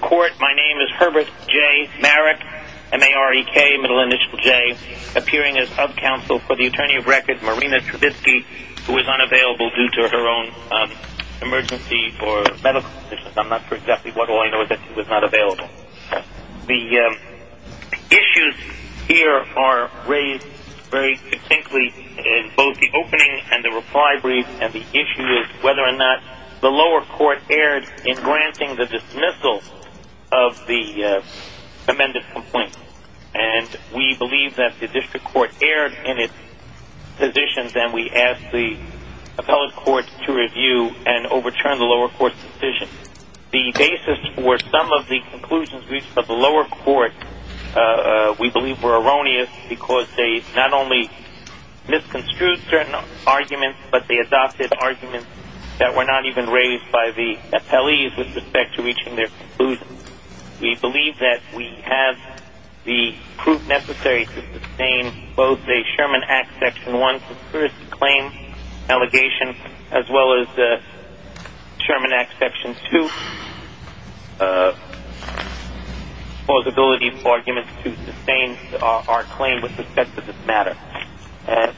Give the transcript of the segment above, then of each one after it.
Court, my name is Herbert J. Marick, M-A-R-E-K, middle initial J, appearing as hub counsel for the attorney of record, Marina Trubitsky, who is unavailable due to her own emergency for medical conditions. I'm not sure exactly what all I know is that she was not available. The issues here are raised very succinctly in both the opening and the reply brief, and the issue is whether or not the lower court erred in granting the dismissal of the amended complaint. And we believe that the district court erred in its positions, and we ask the appellate court to review and overturn the lower court's decision. The basis for some of the conclusions reached by the lower court we believe were erroneous because they not only misconstrued certain arguments, but they adopted arguments that were not even raised by the appellees with respect to reaching their conclusions. We believe that we have the proof necessary to sustain both a Sherman Act Section 1 conspiracy claim allegation as well as a Sherman Act Section 2 plausibility of arguments to sustain our claim with respect to this matter.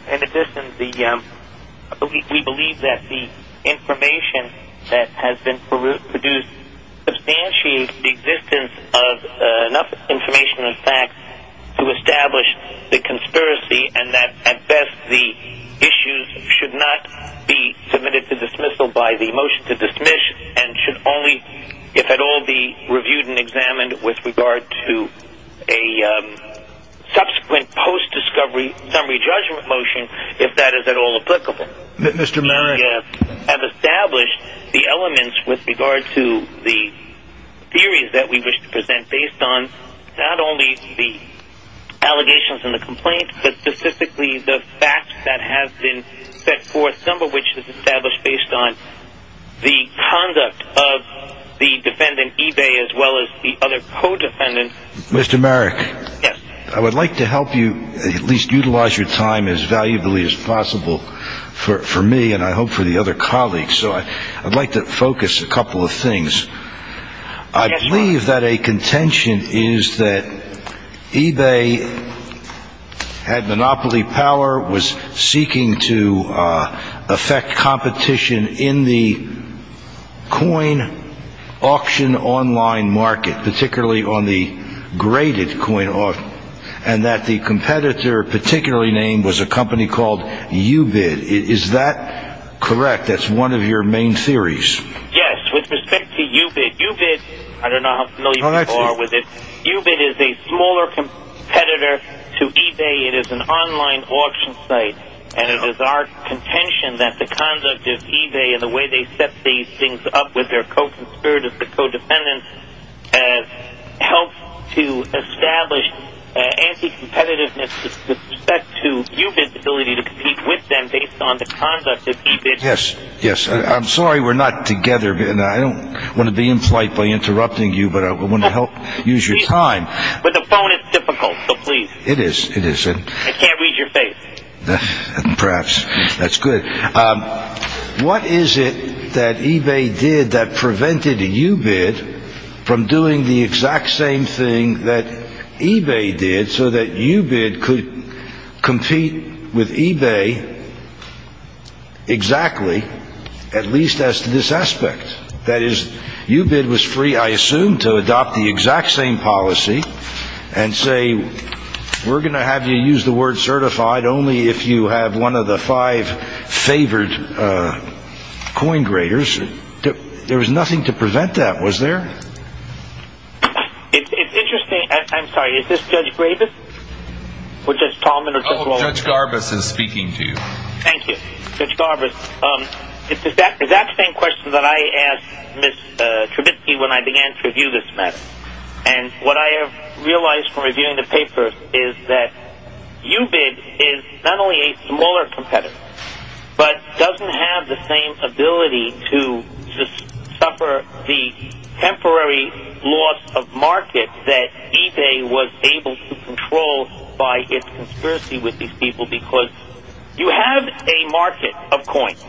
In addition, we believe that the information that has been produced substantiates the existence of enough information and facts to establish the conspiracy, and that at best the issues should not be submitted to dismissal by the motion to dismiss, and should only, if at all, be reviewed and examined with regard to a subsequent post-discovery summary judgment motion, if that is at all applicable. We have established the elements with regard to the theories that we wish to present based on not only the allegations in the complaint, but specifically the facts that have been set forth, some of which is established based on the conduct of the defendant Ebay as well as the other co-defendants. Mr. Merrick, I would like to help you at least utilize your time as valuably as possible for me and I hope for the other colleagues, so I'd like to focus a couple of things. I believe that a contention is that Ebay had monopoly power, was seeking to affect competition in the coin auction online market, particularly on the graded coin auction, and that the competitor particularly named was a company called UBID. Is that correct? That's one of your main theories. Yes, with respect to UBID. UBID, I don't know how familiar you are with it. UBID is a smaller competitor to Ebay. It is an online auction site, and it is our contention that the conduct of Ebay and the way they set these things up with their co-conspirators, the co-defendants, helps to establish anti-competitiveness with respect to UBID's ability to compete with them based on the conduct of UBID. Yes, yes. I'm sorry we're not together, and I don't want to be in flight by interrupting you, but I want to help use your time. But the phone is difficult, so please. It is, it is. I can't read your face. Perhaps. That's good. What is it that Ebay did that prevented UBID from doing the exact same thing that Ebay did so that UBID could compete with Ebay exactly, at least as to this aspect? That is, UBID was free, I assume, to adopt the exact same policy and say, we're going to have you use the word certified only if you have one of the five favored coin graders. There was nothing to prevent that, was there? It's interesting. I'm sorry, is this Judge Gravis? Or Judge Tallman? Oh, Judge Garbus is speaking to you. Thank you, Judge Garbus. It's the exact same question that I asked Ms. Trubitsky when I began to review this matter. And what I have realized from reviewing the paper is that UBID is not only a smaller competitor, but doesn't have the same ability to suffer the temporary loss of market that Ebay was able to control by its conspiracy with these people because you have a market of coins,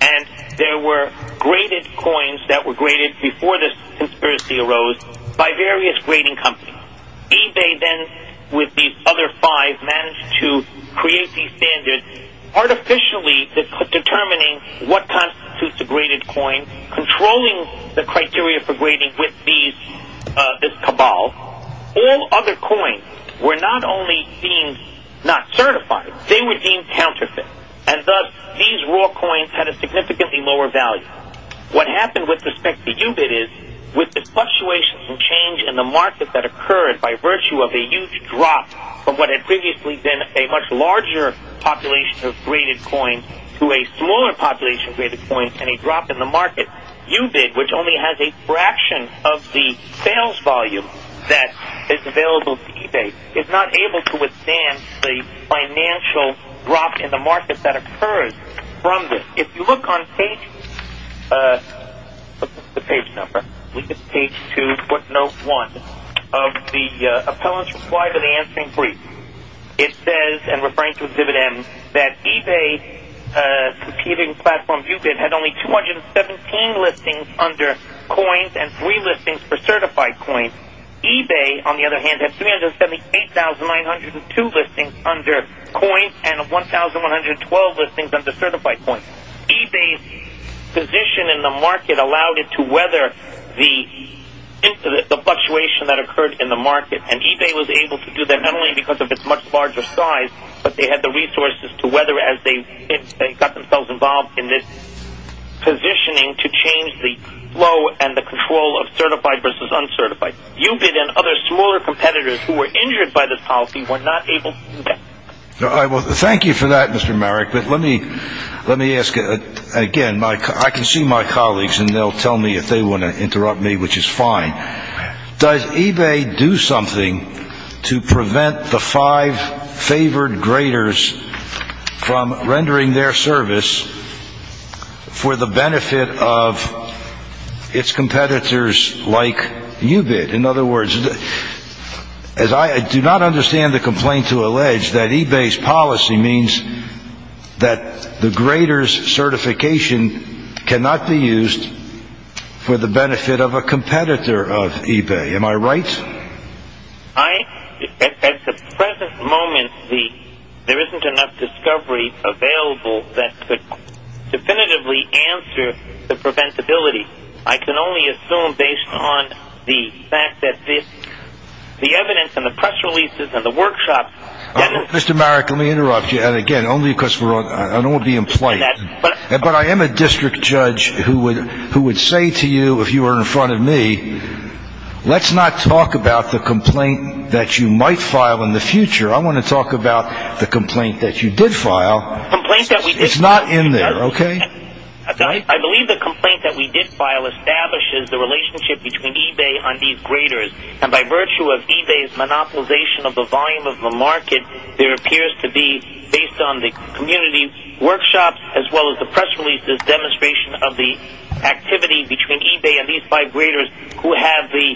and there were graded coins that were graded before this conspiracy arose by various grading companies. Ebay then, with these other five, managed to create these standards artificially determining what constitutes a graded coin, controlling the criteria for grading with this cabal. All other coins were not only deemed not certified, they were deemed counterfeit. And thus, these raw coins had a significantly lower value. What happened with respect to UBID is, with the fluctuations and change in the market that occurred by virtue of a huge drop from what had previously been a much larger population of graded coins to a smaller population of graded coins and a drop in the market, UBID, which only has a fraction of the sales volume that is available to Ebay, is not able to withstand the financial drop in the market that occurs from this. If you look on page 2, footnote 1 of the appellant's reply to the answering brief, it says, and referring to exhibit M, that Ebay's succeeding platform UBID had only 217 listings under coins and 3 listings for certified coins. Ebay, on the other hand, had 378,902 listings under coins and 1,112 listings under certified coins. Ebay's position in the market allowed it to weather the fluctuation that occurred in the market, and Ebay was able to do that not only because of its much larger size, but they had the resources to weather as they got themselves involved in this positioning to change the flow and the control of certified versus uncertified. UBID and other smaller competitors who were injured by this policy were not able to do that. Thank you for that, Mr. Marek, but let me ask again. I can see my colleagues, and they'll tell me if they want to interrupt me, which is fine. Does Ebay do something to prevent the five favored graders from rendering their service for the benefit of its competitors like UBID? In other words, I do not understand the complaint to allege that Ebay's policy means that the graders' certification cannot be used for the benefit of a competitor of Ebay. Am I right? At the present moment, there isn't enough discovery available that could definitively answer the preventability. I can only assume, based on the fact that the evidence and the press releases and the workshops… Mr. Marek, let me interrupt you, and again, only because I don't want to be in play. But I am a district judge who would say to you, if you were in front of me, let's not talk about the complaint that you might file in the future. I want to talk about the complaint that you did file. It's not in there, okay? I believe the complaint that we did file establishes the relationship between Ebay and these graders. And by virtue of Ebay's monopolization of the volume of the market, there appears to be, based on the community workshops as well as the press releases, demonstration of the activity between Ebay and these five graders who have the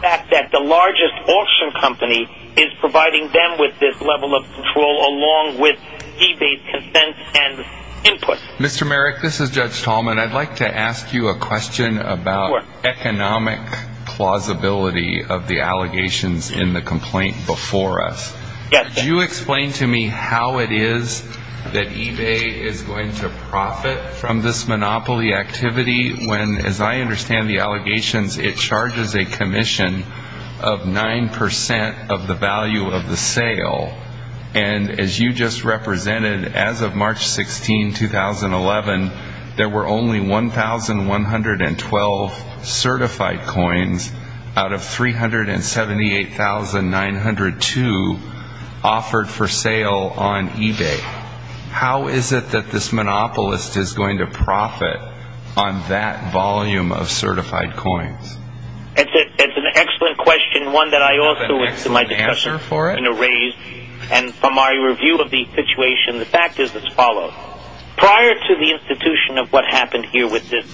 fact that the largest auction company is providing them with this level of control along with Ebay's consent and input. Mr. Marek, this is Judge Tallman. I'd like to ask you a question about economic plausibility of the allegations in the complaint before us. Could you explain to me how it is that Ebay is going to profit from this monopoly activity when, as I understand the allegations, it charges a commission of 9% of the value of the sale? And as you just represented, as of March 16, 2011, there were only 1,112 certified coins out of 378,902 offered for sale on Ebay. How is it that this monopolist is going to profit on that volume of certified coins? That's an excellent question, one that I also in my discussion raised. And from my review of the situation, the fact is as follows. Prior to the institution of what happened here with this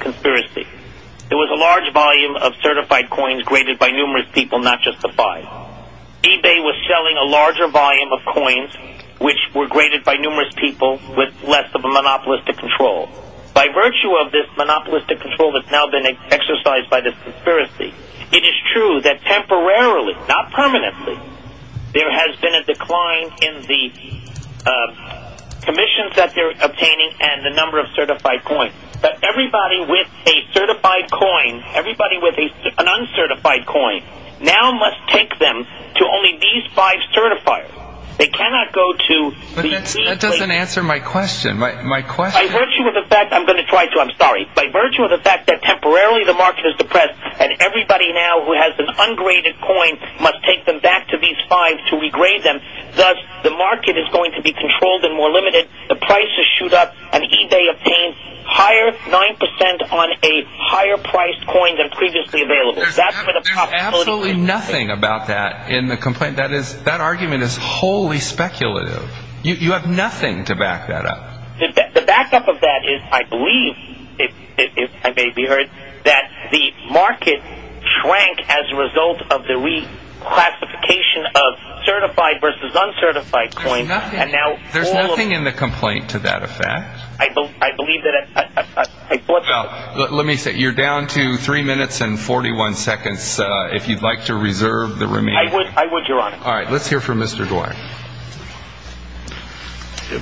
conspiracy, there was a large volume of certified coins graded by numerous people, not just the five. Ebay was selling a larger volume of coins which were graded by numerous people with less of a monopolistic control. By virtue of this monopolistic control that's now been exercised by this conspiracy, it is true that temporarily, not permanently, there has been a decline in the commissions that they're obtaining and the number of certified coins. But everybody with a certified coin, everybody with an uncertified coin, now must take them to only these five certifiers. They cannot go to these... But that doesn't answer my question. My question... By virtue of the fact, I'm going to try to, I'm sorry. By virtue of the fact that temporarily the market is depressed and everybody now who has an ungraded coin must take them back to these five to regrade them, thus the market is going to be controlled and more limited, the prices shoot up, and Ebay obtains higher, 9% on a higher priced coin than previously available. There's absolutely nothing about that in the complaint. That argument is wholly speculative. You have nothing to back that up. The backup of that is, I believe, if I may be heard, that the market shrank as a result of the reclassification of certified versus uncertified coins and now... There's nothing in the complaint to that effect. I believe that... Let me say, you're down to three minutes and 41 seconds if you'd like to reserve the remaining... I would, Your Honor. All right, let's hear from Mr. Dwyer.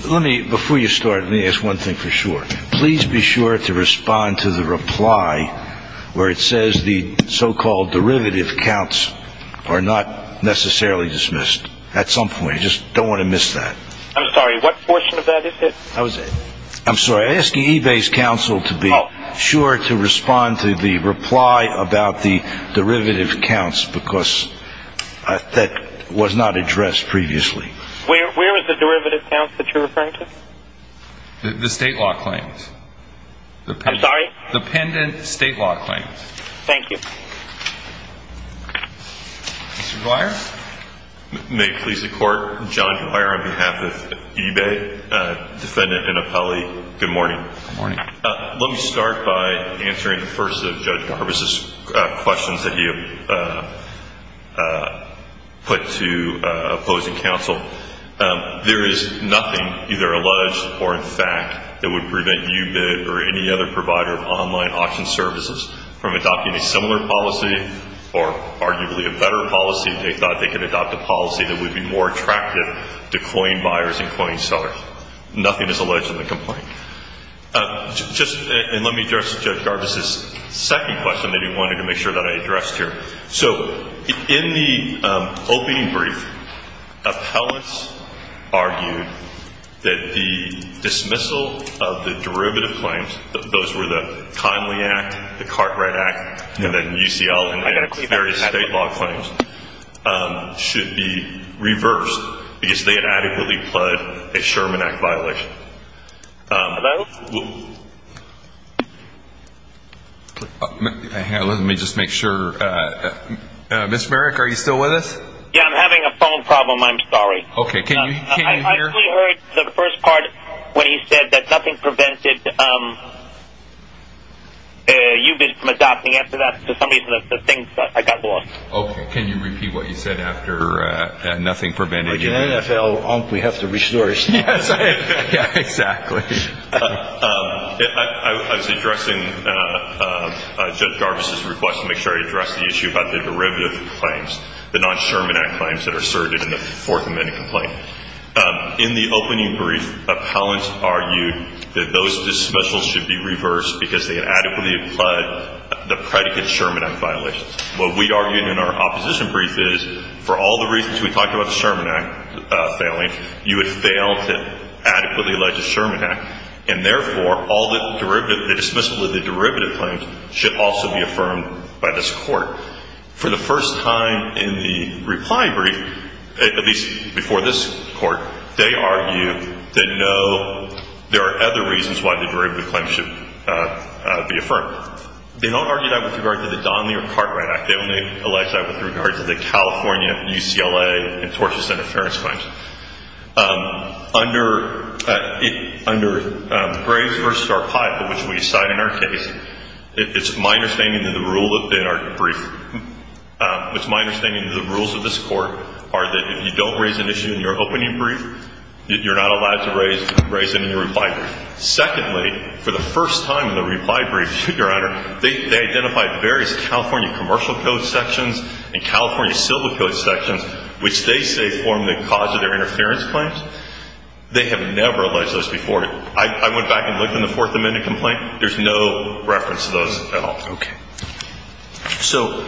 Let me, before you start, let me ask one thing for sure. Please be sure to respond to the reply where it says the so-called derivative counts are not necessarily dismissed. At some point, you just don't want to miss that. I'm sorry, what portion of that is it? I'm sorry, I'm asking Ebay's counsel to be sure to respond to the reply about the derivative counts because that was not addressed previously. Where is the derivative counts that you're referring to? The state law claims. I'm sorry? The pendent state law claims. Thank you. Mr. Dwyer? May it please the Court? John Dwyer on behalf of Ebay. Defendant and appellee, good morning. Good morning. Let me start by answering the first of Judge Garbus' questions that he put to opposing counsel. There is nothing either alleged or in fact that would prevent UBID or any other provider of online auction services from adopting a similar policy or arguably a better policy. They thought they could adopt a policy that would be more attractive to coin buyers and coin sellers. Nothing is alleged in the complaint. And let me address Judge Garbus' second question that he wanted to make sure that I addressed here. So in the opening brief, appellants argued that the dismissal of the derivative claims, those were the Conley Act, the Cartwright Act, and then UCL and various state law claims, should be reversed because they had adequately pledged a Sherman Act violation. Hello? Let me just make sure. Mr. Merrick, are you still with us? Yeah, I'm having a phone problem. I'm sorry. Okay, can you hear? We heard the first part when he said that nothing prevented UBID from adopting. After that, for some reason, I got lost. Okay, can you repeat what you said after nothing prevented UBID? We have to resource. Yeah, exactly. I was addressing Judge Garbus' request to make sure he addressed the issue about the derivative claims, the non-Sherman Act claims that are asserted in the Fourth Amendment complaint. In the opening brief, appellants argued that those dismissals should be reversed because they had adequately pledged the predicate Sherman Act violation. What we argued in our opposition brief is for all the reasons we talked about the Sherman Act failing, you would fail to adequately allege a Sherman Act, and therefore all the dismissal of the derivative claims should also be affirmed by this Court. For the first time in the reply brief, at least before this Court, they argue that no, there are other reasons why the derivative claims should be affirmed. They don't argue that with regard to the Donley or Cartwright Act. They only allege that with regard to the California UCLA and Tortious Interference Claims. Under Graves v. Arpaio, which we cite in our case, it's my understanding that the rules of this Court are that if you don't raise an issue in your opening brief, you're not allowed to raise it in your reply brief. Secondly, for the first time in the reply brief, Your Honor, they identified various California Commercial Code sections and California Civil Code sections, which they say form the cause of their interference claims. They have never alleged those before. I went back and looked in the Fourth Amendment complaint. There's no reference to those at all. Okay. So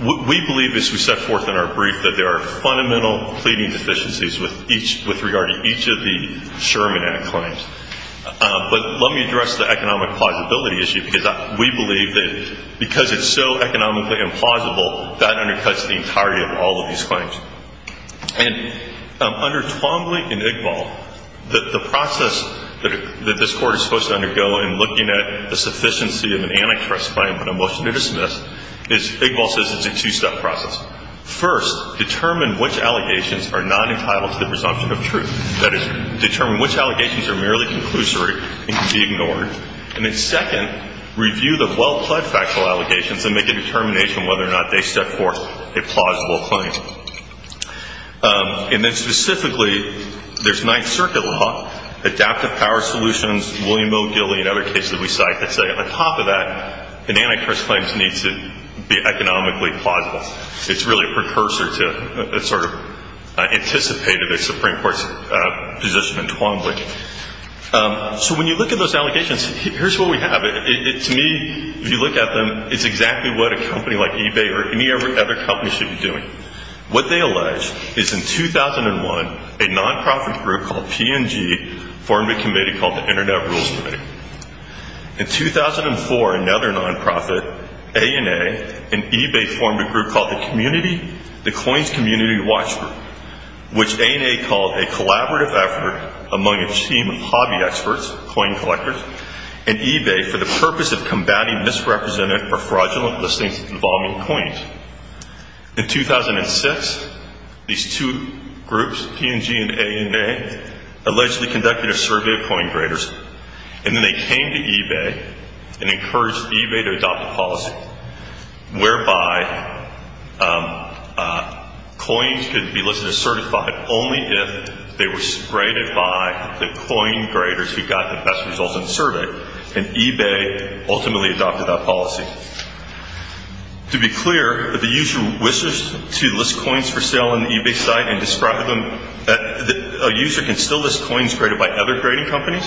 we believe, as we set forth in our brief, that there are fundamental pleading deficiencies with regard to each of the Sherman Act claims. But let me address the economic plausibility issue, because we believe that because it's so economically implausible, that undercuts the entirety of all of these claims. And under Twombly v. Iqbal, the process that this Court is supposed to undergo in looking at the sufficiency of an antitrust claim and a motion to dismiss is, Iqbal says it's a two-step process. First, determine which allegations are not entitled to the presumption of truth. That is, determine which allegations are merely conclusory and can be ignored. And then second, review the well-pled factual allegations and make a determination whether or not they set forth a plausible claim. And then specifically, there's Ninth Circuit law, adaptive power solutions, William O. Gilley and other cases we cite that say on top of that, an antitrust claim needs to be economically plausible. It's really a precursor to a sort of anticipated Supreme Court position in Twombly. So when you look at those allegations, here's what we have. To me, if you look at them, it's exactly what a company like eBay or any other company should be doing. What they allege is in 2001, a nonprofit group called P&G formed a committee called the Internet Rules Committee. In 2004, another nonprofit, A&A, and eBay formed a group called the Coins Community Watch Group, which A&A called a collaborative effort among a team of hobby experts, coin collectors, and eBay for the purpose of combating misrepresented or fraudulent listings involving coins. In 2006, these two groups, P&G and A&A, allegedly conducted a survey of coin graders, and then they came to eBay and encouraged eBay to adopt a policy whereby coins could be listed as certified only if they were graded by the coin graders who got the best results in the survey, and eBay ultimately adopted that policy. To be clear, if a user wishes to list coins for sale on the eBay site and describes them, a user can still list coins graded by other grading companies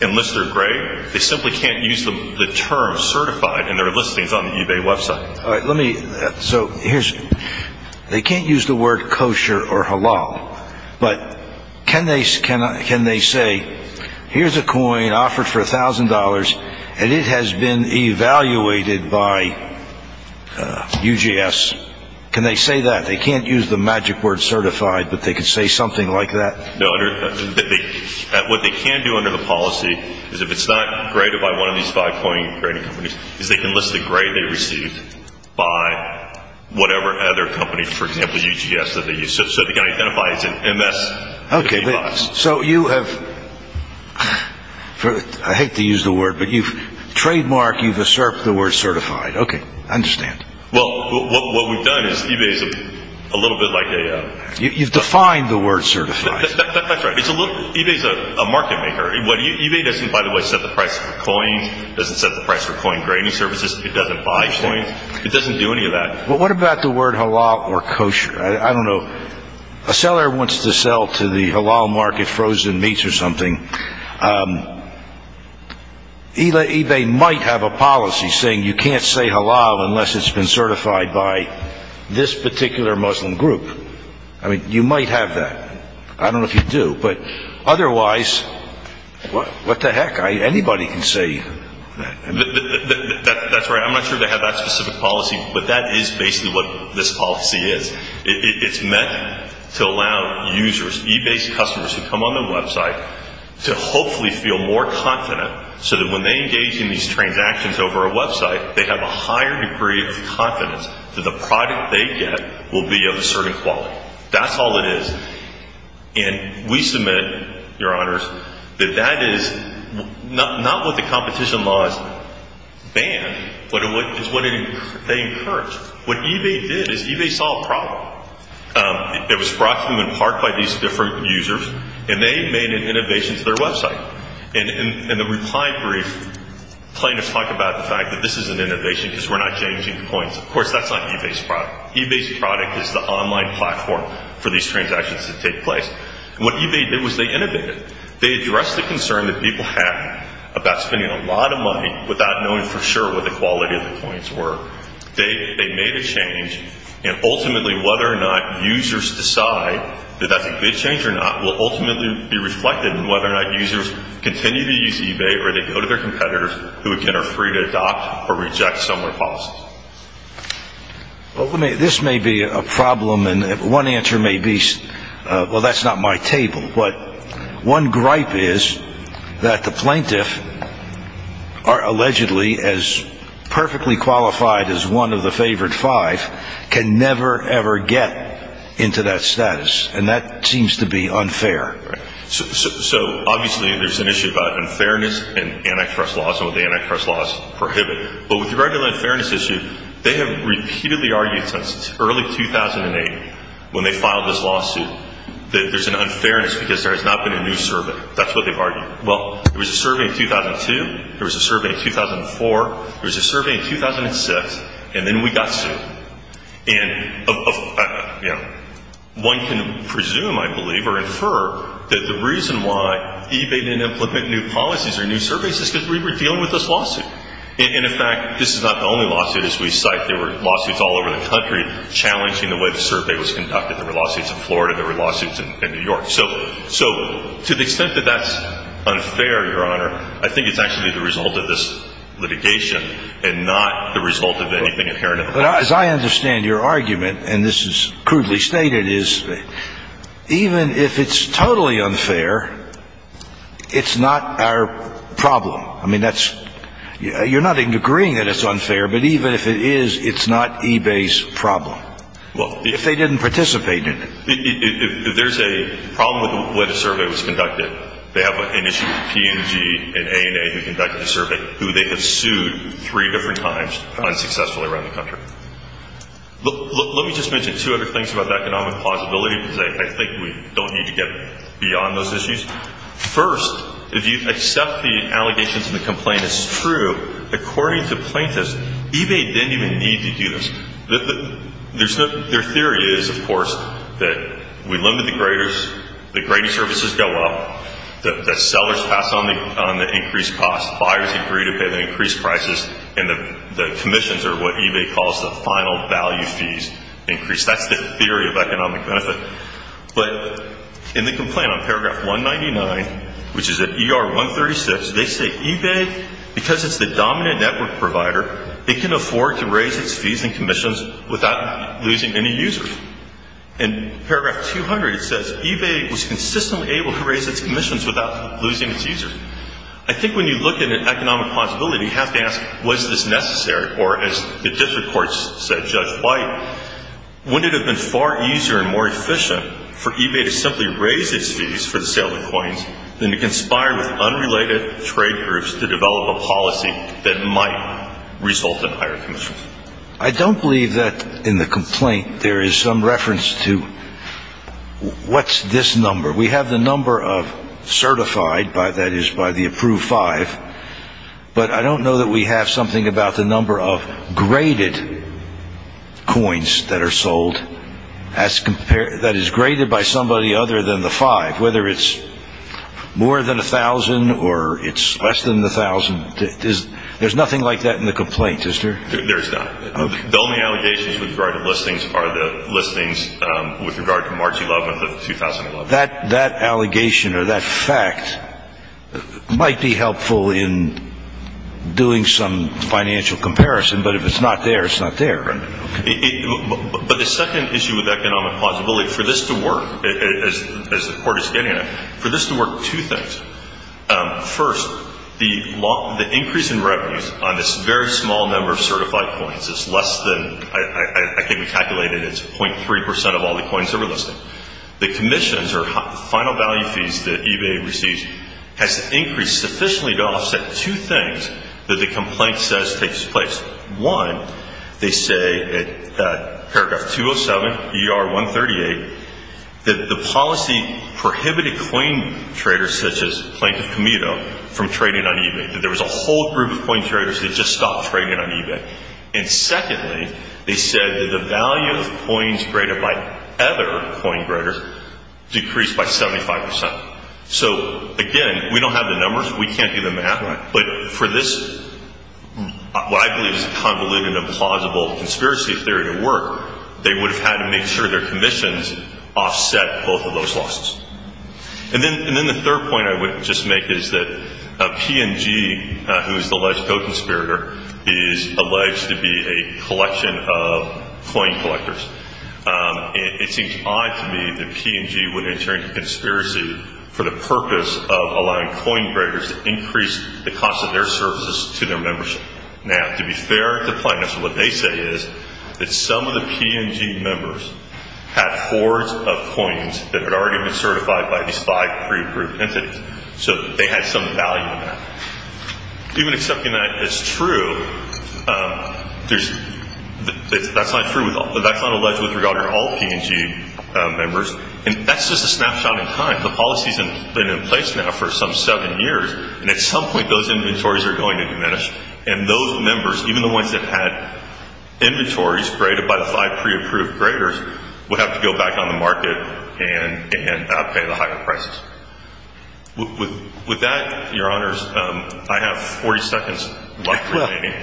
and list their grade. They simply can't use the term certified in their listings on the eBay website. All right, let me, so here's, they can't use the word kosher or halal, but can they say, here's a coin offered for $1,000 and it has been evaluated by UGS, can they say that? They can't use the magic word certified, but they can say something like that? No, what they can do under the policy is if it's not graded by one of these five coin grading companies, is they can list the grade they received by whatever other company, for example UGS, that they used. So they can identify it's an MS device. Okay, so you have, I hate to use the word, but you've trademarked, you've usurped the word certified. Okay, I understand. Well, what we've done is eBay's a little bit like a You've defined the word certified. That's right. eBay's a market maker. eBay doesn't, by the way, set the price for coins, doesn't set the price for coin grading services, it doesn't buy coins, it doesn't do any of that. But what about the word halal or kosher? I don't know. A seller wants to sell to the halal market frozen meats or something. eBay might have a policy saying you can't say halal unless it's been certified by this particular Muslim group. I mean, you might have that. I don't know if you do. But otherwise, what the heck? Anybody can say that. That's right. I'm not sure they have that specific policy, but that is basically what this policy is. It's meant to allow users, eBay's customers who come on the website, to hopefully feel more confident so that when they engage in these transactions over a website, they have a higher degree of confidence that the product they get will be of a certain quality. That's all it is. And we submit, Your Honors, that that is not what the competition laws ban, but it's what they encourage. What eBay did is eBay saw a problem. It was brought to them in part by these different users, and they made an innovation to their website. In the reply brief, plaintiffs talk about the fact that this is an innovation because we're not changing coins. Of course, that's not eBay's product. eBay's product is the online platform for these transactions to take place. And what eBay did was they innovated. They addressed the concern that people have about spending a lot of money without knowing for sure what the quality of the coins were. They made a change, and ultimately whether or not users decide that that's a good change or not will ultimately be reflected in whether or not users continue to use eBay or they go to their competitors who again are free to adopt or reject similar policies. Well, this may be a problem, and one answer may be, well, that's not my table. But one gripe is that the plaintiff, allegedly as perfectly qualified as one of the favored five, can never, ever get into that status, and that seems to be unfair. So obviously there's an issue about unfairness in antitrust laws and what the antitrust laws prohibit. But with the regular unfairness issue, they have repeatedly argued since early 2008 when they filed this lawsuit that there's an unfairness because there has not been a new survey. That's what they've argued. Well, there was a survey in 2002. There was a survey in 2004. There was a survey in 2006, and then we got sued. And one can presume, I believe, or infer that the reason why eBay didn't implement new policies or new surveys is because we were dealing with this lawsuit. And, in fact, this is not the only lawsuit. As we cite, there were lawsuits all over the country challenging the way the survey was conducted. There were lawsuits in Florida. There were lawsuits in New York. So to the extent that that's unfair, Your Honor, I think it's actually the result of this litigation and not the result of anything inherent in the law. But as I understand your argument, and this is crudely stated, is even if it's totally unfair, it's not our problem. I mean, you're not agreeing that it's unfair, but even if it is, it's not eBay's problem. If they didn't participate in it. If there's a problem with the way the survey was conducted, they have an issue with P&G and A&A who conducted the survey who they have sued three different times unsuccessfully around the country. Let me just mention two other things about the economic plausibility because I think we don't need to get beyond those issues. First, if you accept the allegations in the complaint as true, according to plaintiffs, eBay didn't even need to do this. Their theory is, of course, that we limit the graders. The grading services go up. The sellers pass on the increased cost. Buyers agree to pay the increased prices. And the commissions are what eBay calls the final value fees increase. That's the theory of economic benefit. But in the complaint on paragraph 199, which is at ER 136, they say eBay, because it's the dominant network provider, it can afford to raise its fees and commissions without losing any users. In paragraph 200, it says eBay was consistently able to raise its commissions without losing its users. I think when you look at economic plausibility, you have to ask was this necessary or, as the district courts said, Judge White, wouldn't it have been far easier and more efficient for eBay to simply raise its fees for the sale of coins than to conspire with unrelated trade groups to develop a policy that might result in higher commissions? I don't believe that in the complaint there is some reference to what's this number. We have the number of certified, that is, by the approved five. But I don't know that we have something about the number of graded coins that are sold that is graded by somebody other than the five, whether it's more than 1,000 or it's less than 1,000. There's nothing like that in the complaint, is there? There's not. The only allegations with regard to listings are the listings with regard to March 11th of 2011. That allegation or that fact might be helpful in doing some financial comparison, but if it's not there, it's not there. But the second issue with economic plausibility, for this to work, as the court is getting at it, for this to work, two things. First, the increase in revenues on this very small number of certified coins is less than, I think we calculated it's 0.3 percent of all the coins that were listed. The commissions or final value fees that eBay receives has increased sufficiently to offset two things that the complaint says takes place. One, they say at paragraph 207, ER 138, that the policy prohibited coin traders, such as Plank of Comedo, from trading on eBay, that there was a whole group of coin traders that just stopped trading on eBay. And secondly, they said that the value of coins traded by other coin traders decreased by 75 percent. So, again, we don't have the numbers. We can't do the math. But for this, what I believe is a convoluted and plausible conspiracy theory to work, they would have had to make sure their commissions offset both of those losses. And then the third point I would just make is that P&G, who is the alleged co-conspirator, is alleged to be a collection of coin collectors. It seems odd to me that P&G would enter into a conspiracy for the purpose of allowing coin traders to increase the cost of their services to their membership. Now, to be fair to Plank, what they say is that some of the P&G members had hoards of coins that had already been certified by these five pre-approved entities. So they had some value in that. Even accepting that as true, that's not true. That's not alleged with regard to all P&G members. And that's just a snapshot in time. The policy's been in place now for some seven years. And at some point, those inventories are going to diminish. And those members, even the ones that had inventories graded by the five pre-approved graders, would have to go back on the market and pay the higher prices. With that, Your Honors, I have 40 seconds left remaining.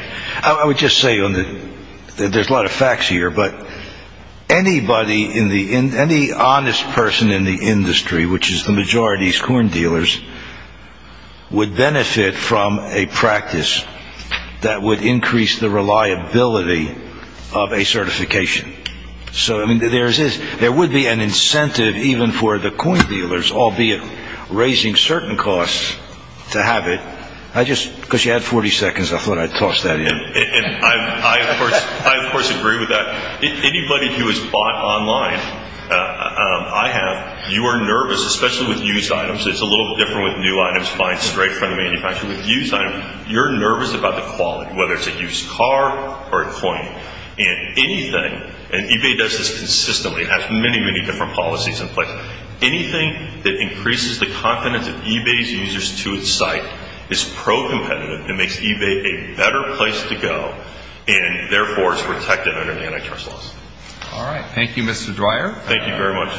I would just say, there's a lot of facts here, but anybody, any honest person in the industry, which is the majority is coin dealers, would benefit from a practice that would increase the reliability of a certification. So, I mean, there would be an incentive even for the coin dealers, albeit raising certain costs, to have it. I just, because you had 40 seconds, I thought I'd toss that in. I, of course, agree with that. Anybody who has bought online, I have, you are nervous, especially with used items. It's a little different with new items buying straight from the manufacturer. With used items, you're nervous about the quality, whether it's a used car or a coin. And anything, and eBay does this consistently. It has many, many different policies in place. Anything that increases the confidence of eBay's users to its site is pro-competitive. It makes eBay a better place to go, and, therefore, it's protected under the antitrust laws. All right. Thank you, Mr. Dwyer. Thank you very much.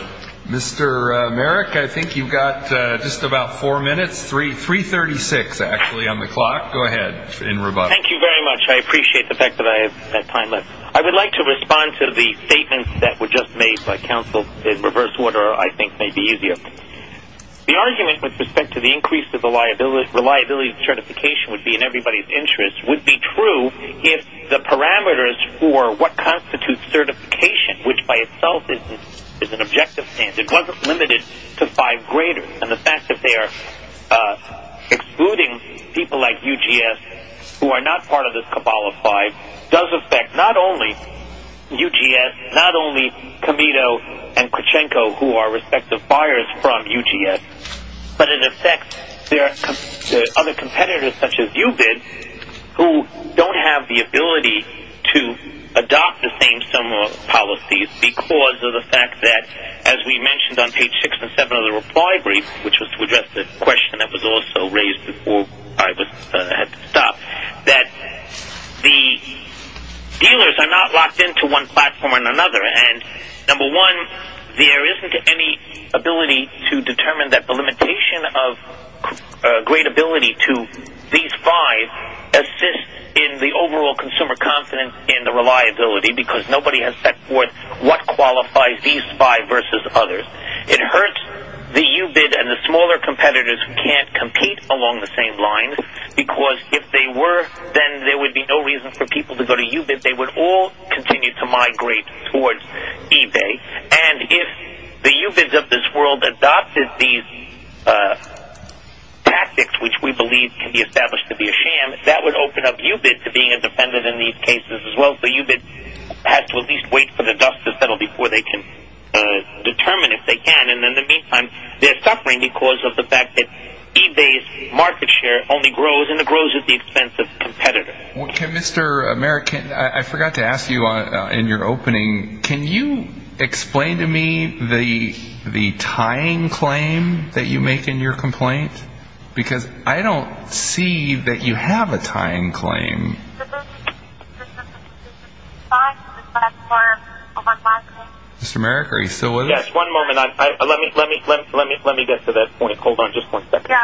Mr. Merrick, I think you've got just about four minutes, 336, actually, on the clock. Go ahead, in rebuttal. Thank you very much. I appreciate the fact that I have that time left. I would like to respond to the statements that were just made by counsel. In reverse order, I think, may be easier. The argument with respect to the increase of the reliability of certification would be in everybody's interest would be true if the parameters for what constitutes certification, which by itself is an objective standard, it wasn't limited to five graders. And the fact that they are excluding people like UGS, who are not part of this cabal of five, does affect not only UGS, not only Comito and Krachenko, who are respective buyers from UGS, but it affects other competitors, such as UBID, who don't have the ability to adopt the same similar policies because of the fact that, as we mentioned on page six and seven of the reply brief, which was to address the question that was also raised before I had to stop, that the dealers are not locked into one platform and another. And number one, there isn't any ability to determine that the limitation of gradeability to these five assists in the overall consumer confidence and the reliability because nobody has set forth what qualifies these five versus others. It hurts the UBID and the smaller competitors who can't compete along the same lines because if they were, then there would be no reason for people to go to UBID. They would all continue to migrate towards eBay. And if the UBIDs of this world adopted these tactics, which we believe can be established to be a sham, that would open up UBID to being a defendant in these cases as well. So UBID has to at least wait for the dust to settle before they can determine if they can. And in the meantime, they're suffering because of the fact that eBay's market share only grows, and it grows at the expense of competitors. Mr. American, I forgot to ask you in your opening, can you explain to me the tying claim that you make in your complaint? Because I don't see that you have a tying claim. Mr. American, are you still with us? Yes, one moment. Let me get to that point. Hold on just one second.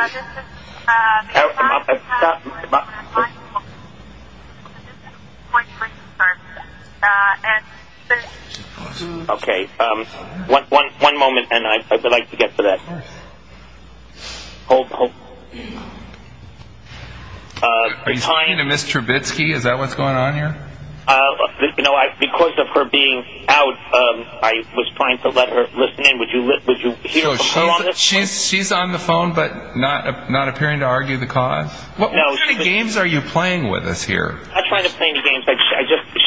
Okay. One moment, and I would like to get to that. Are you speaking to Ms. Trubitsky? Is that what's going on here? Because of her being out, I was trying to let her listen in. Would you hear from her on this one? She's on the phone, but not appearing to argue the cause? What kind of games are you playing with us here? I'm not trying to play any games.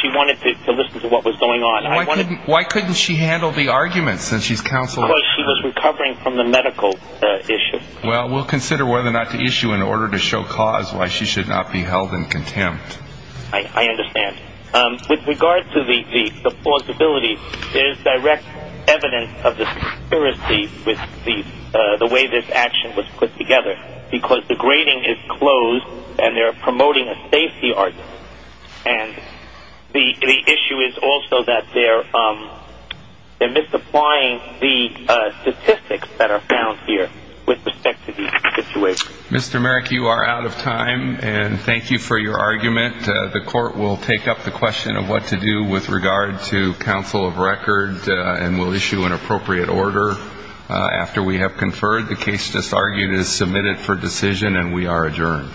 She wanted to listen to what was going on. Why couldn't she handle the arguments since she's counseled? Because she was recovering from the medical issue. Well, we'll consider whether or not to issue an order to show cause why she should not be held in contempt. I understand. With regard to the plausibility, there's direct evidence of the conspiracy with the way this action was put together because the grading is closed and they're promoting a safety argument. And the issue is also that they're misapplying the statistics that are found here with respect to these situations. Mr. Merrick, you are out of time, and thank you for your argument. The court will take up the question of what to do with regard to counsel of record and will issue an appropriate order after we have conferred. The case just argued is submitted for decision, and we are adjourned.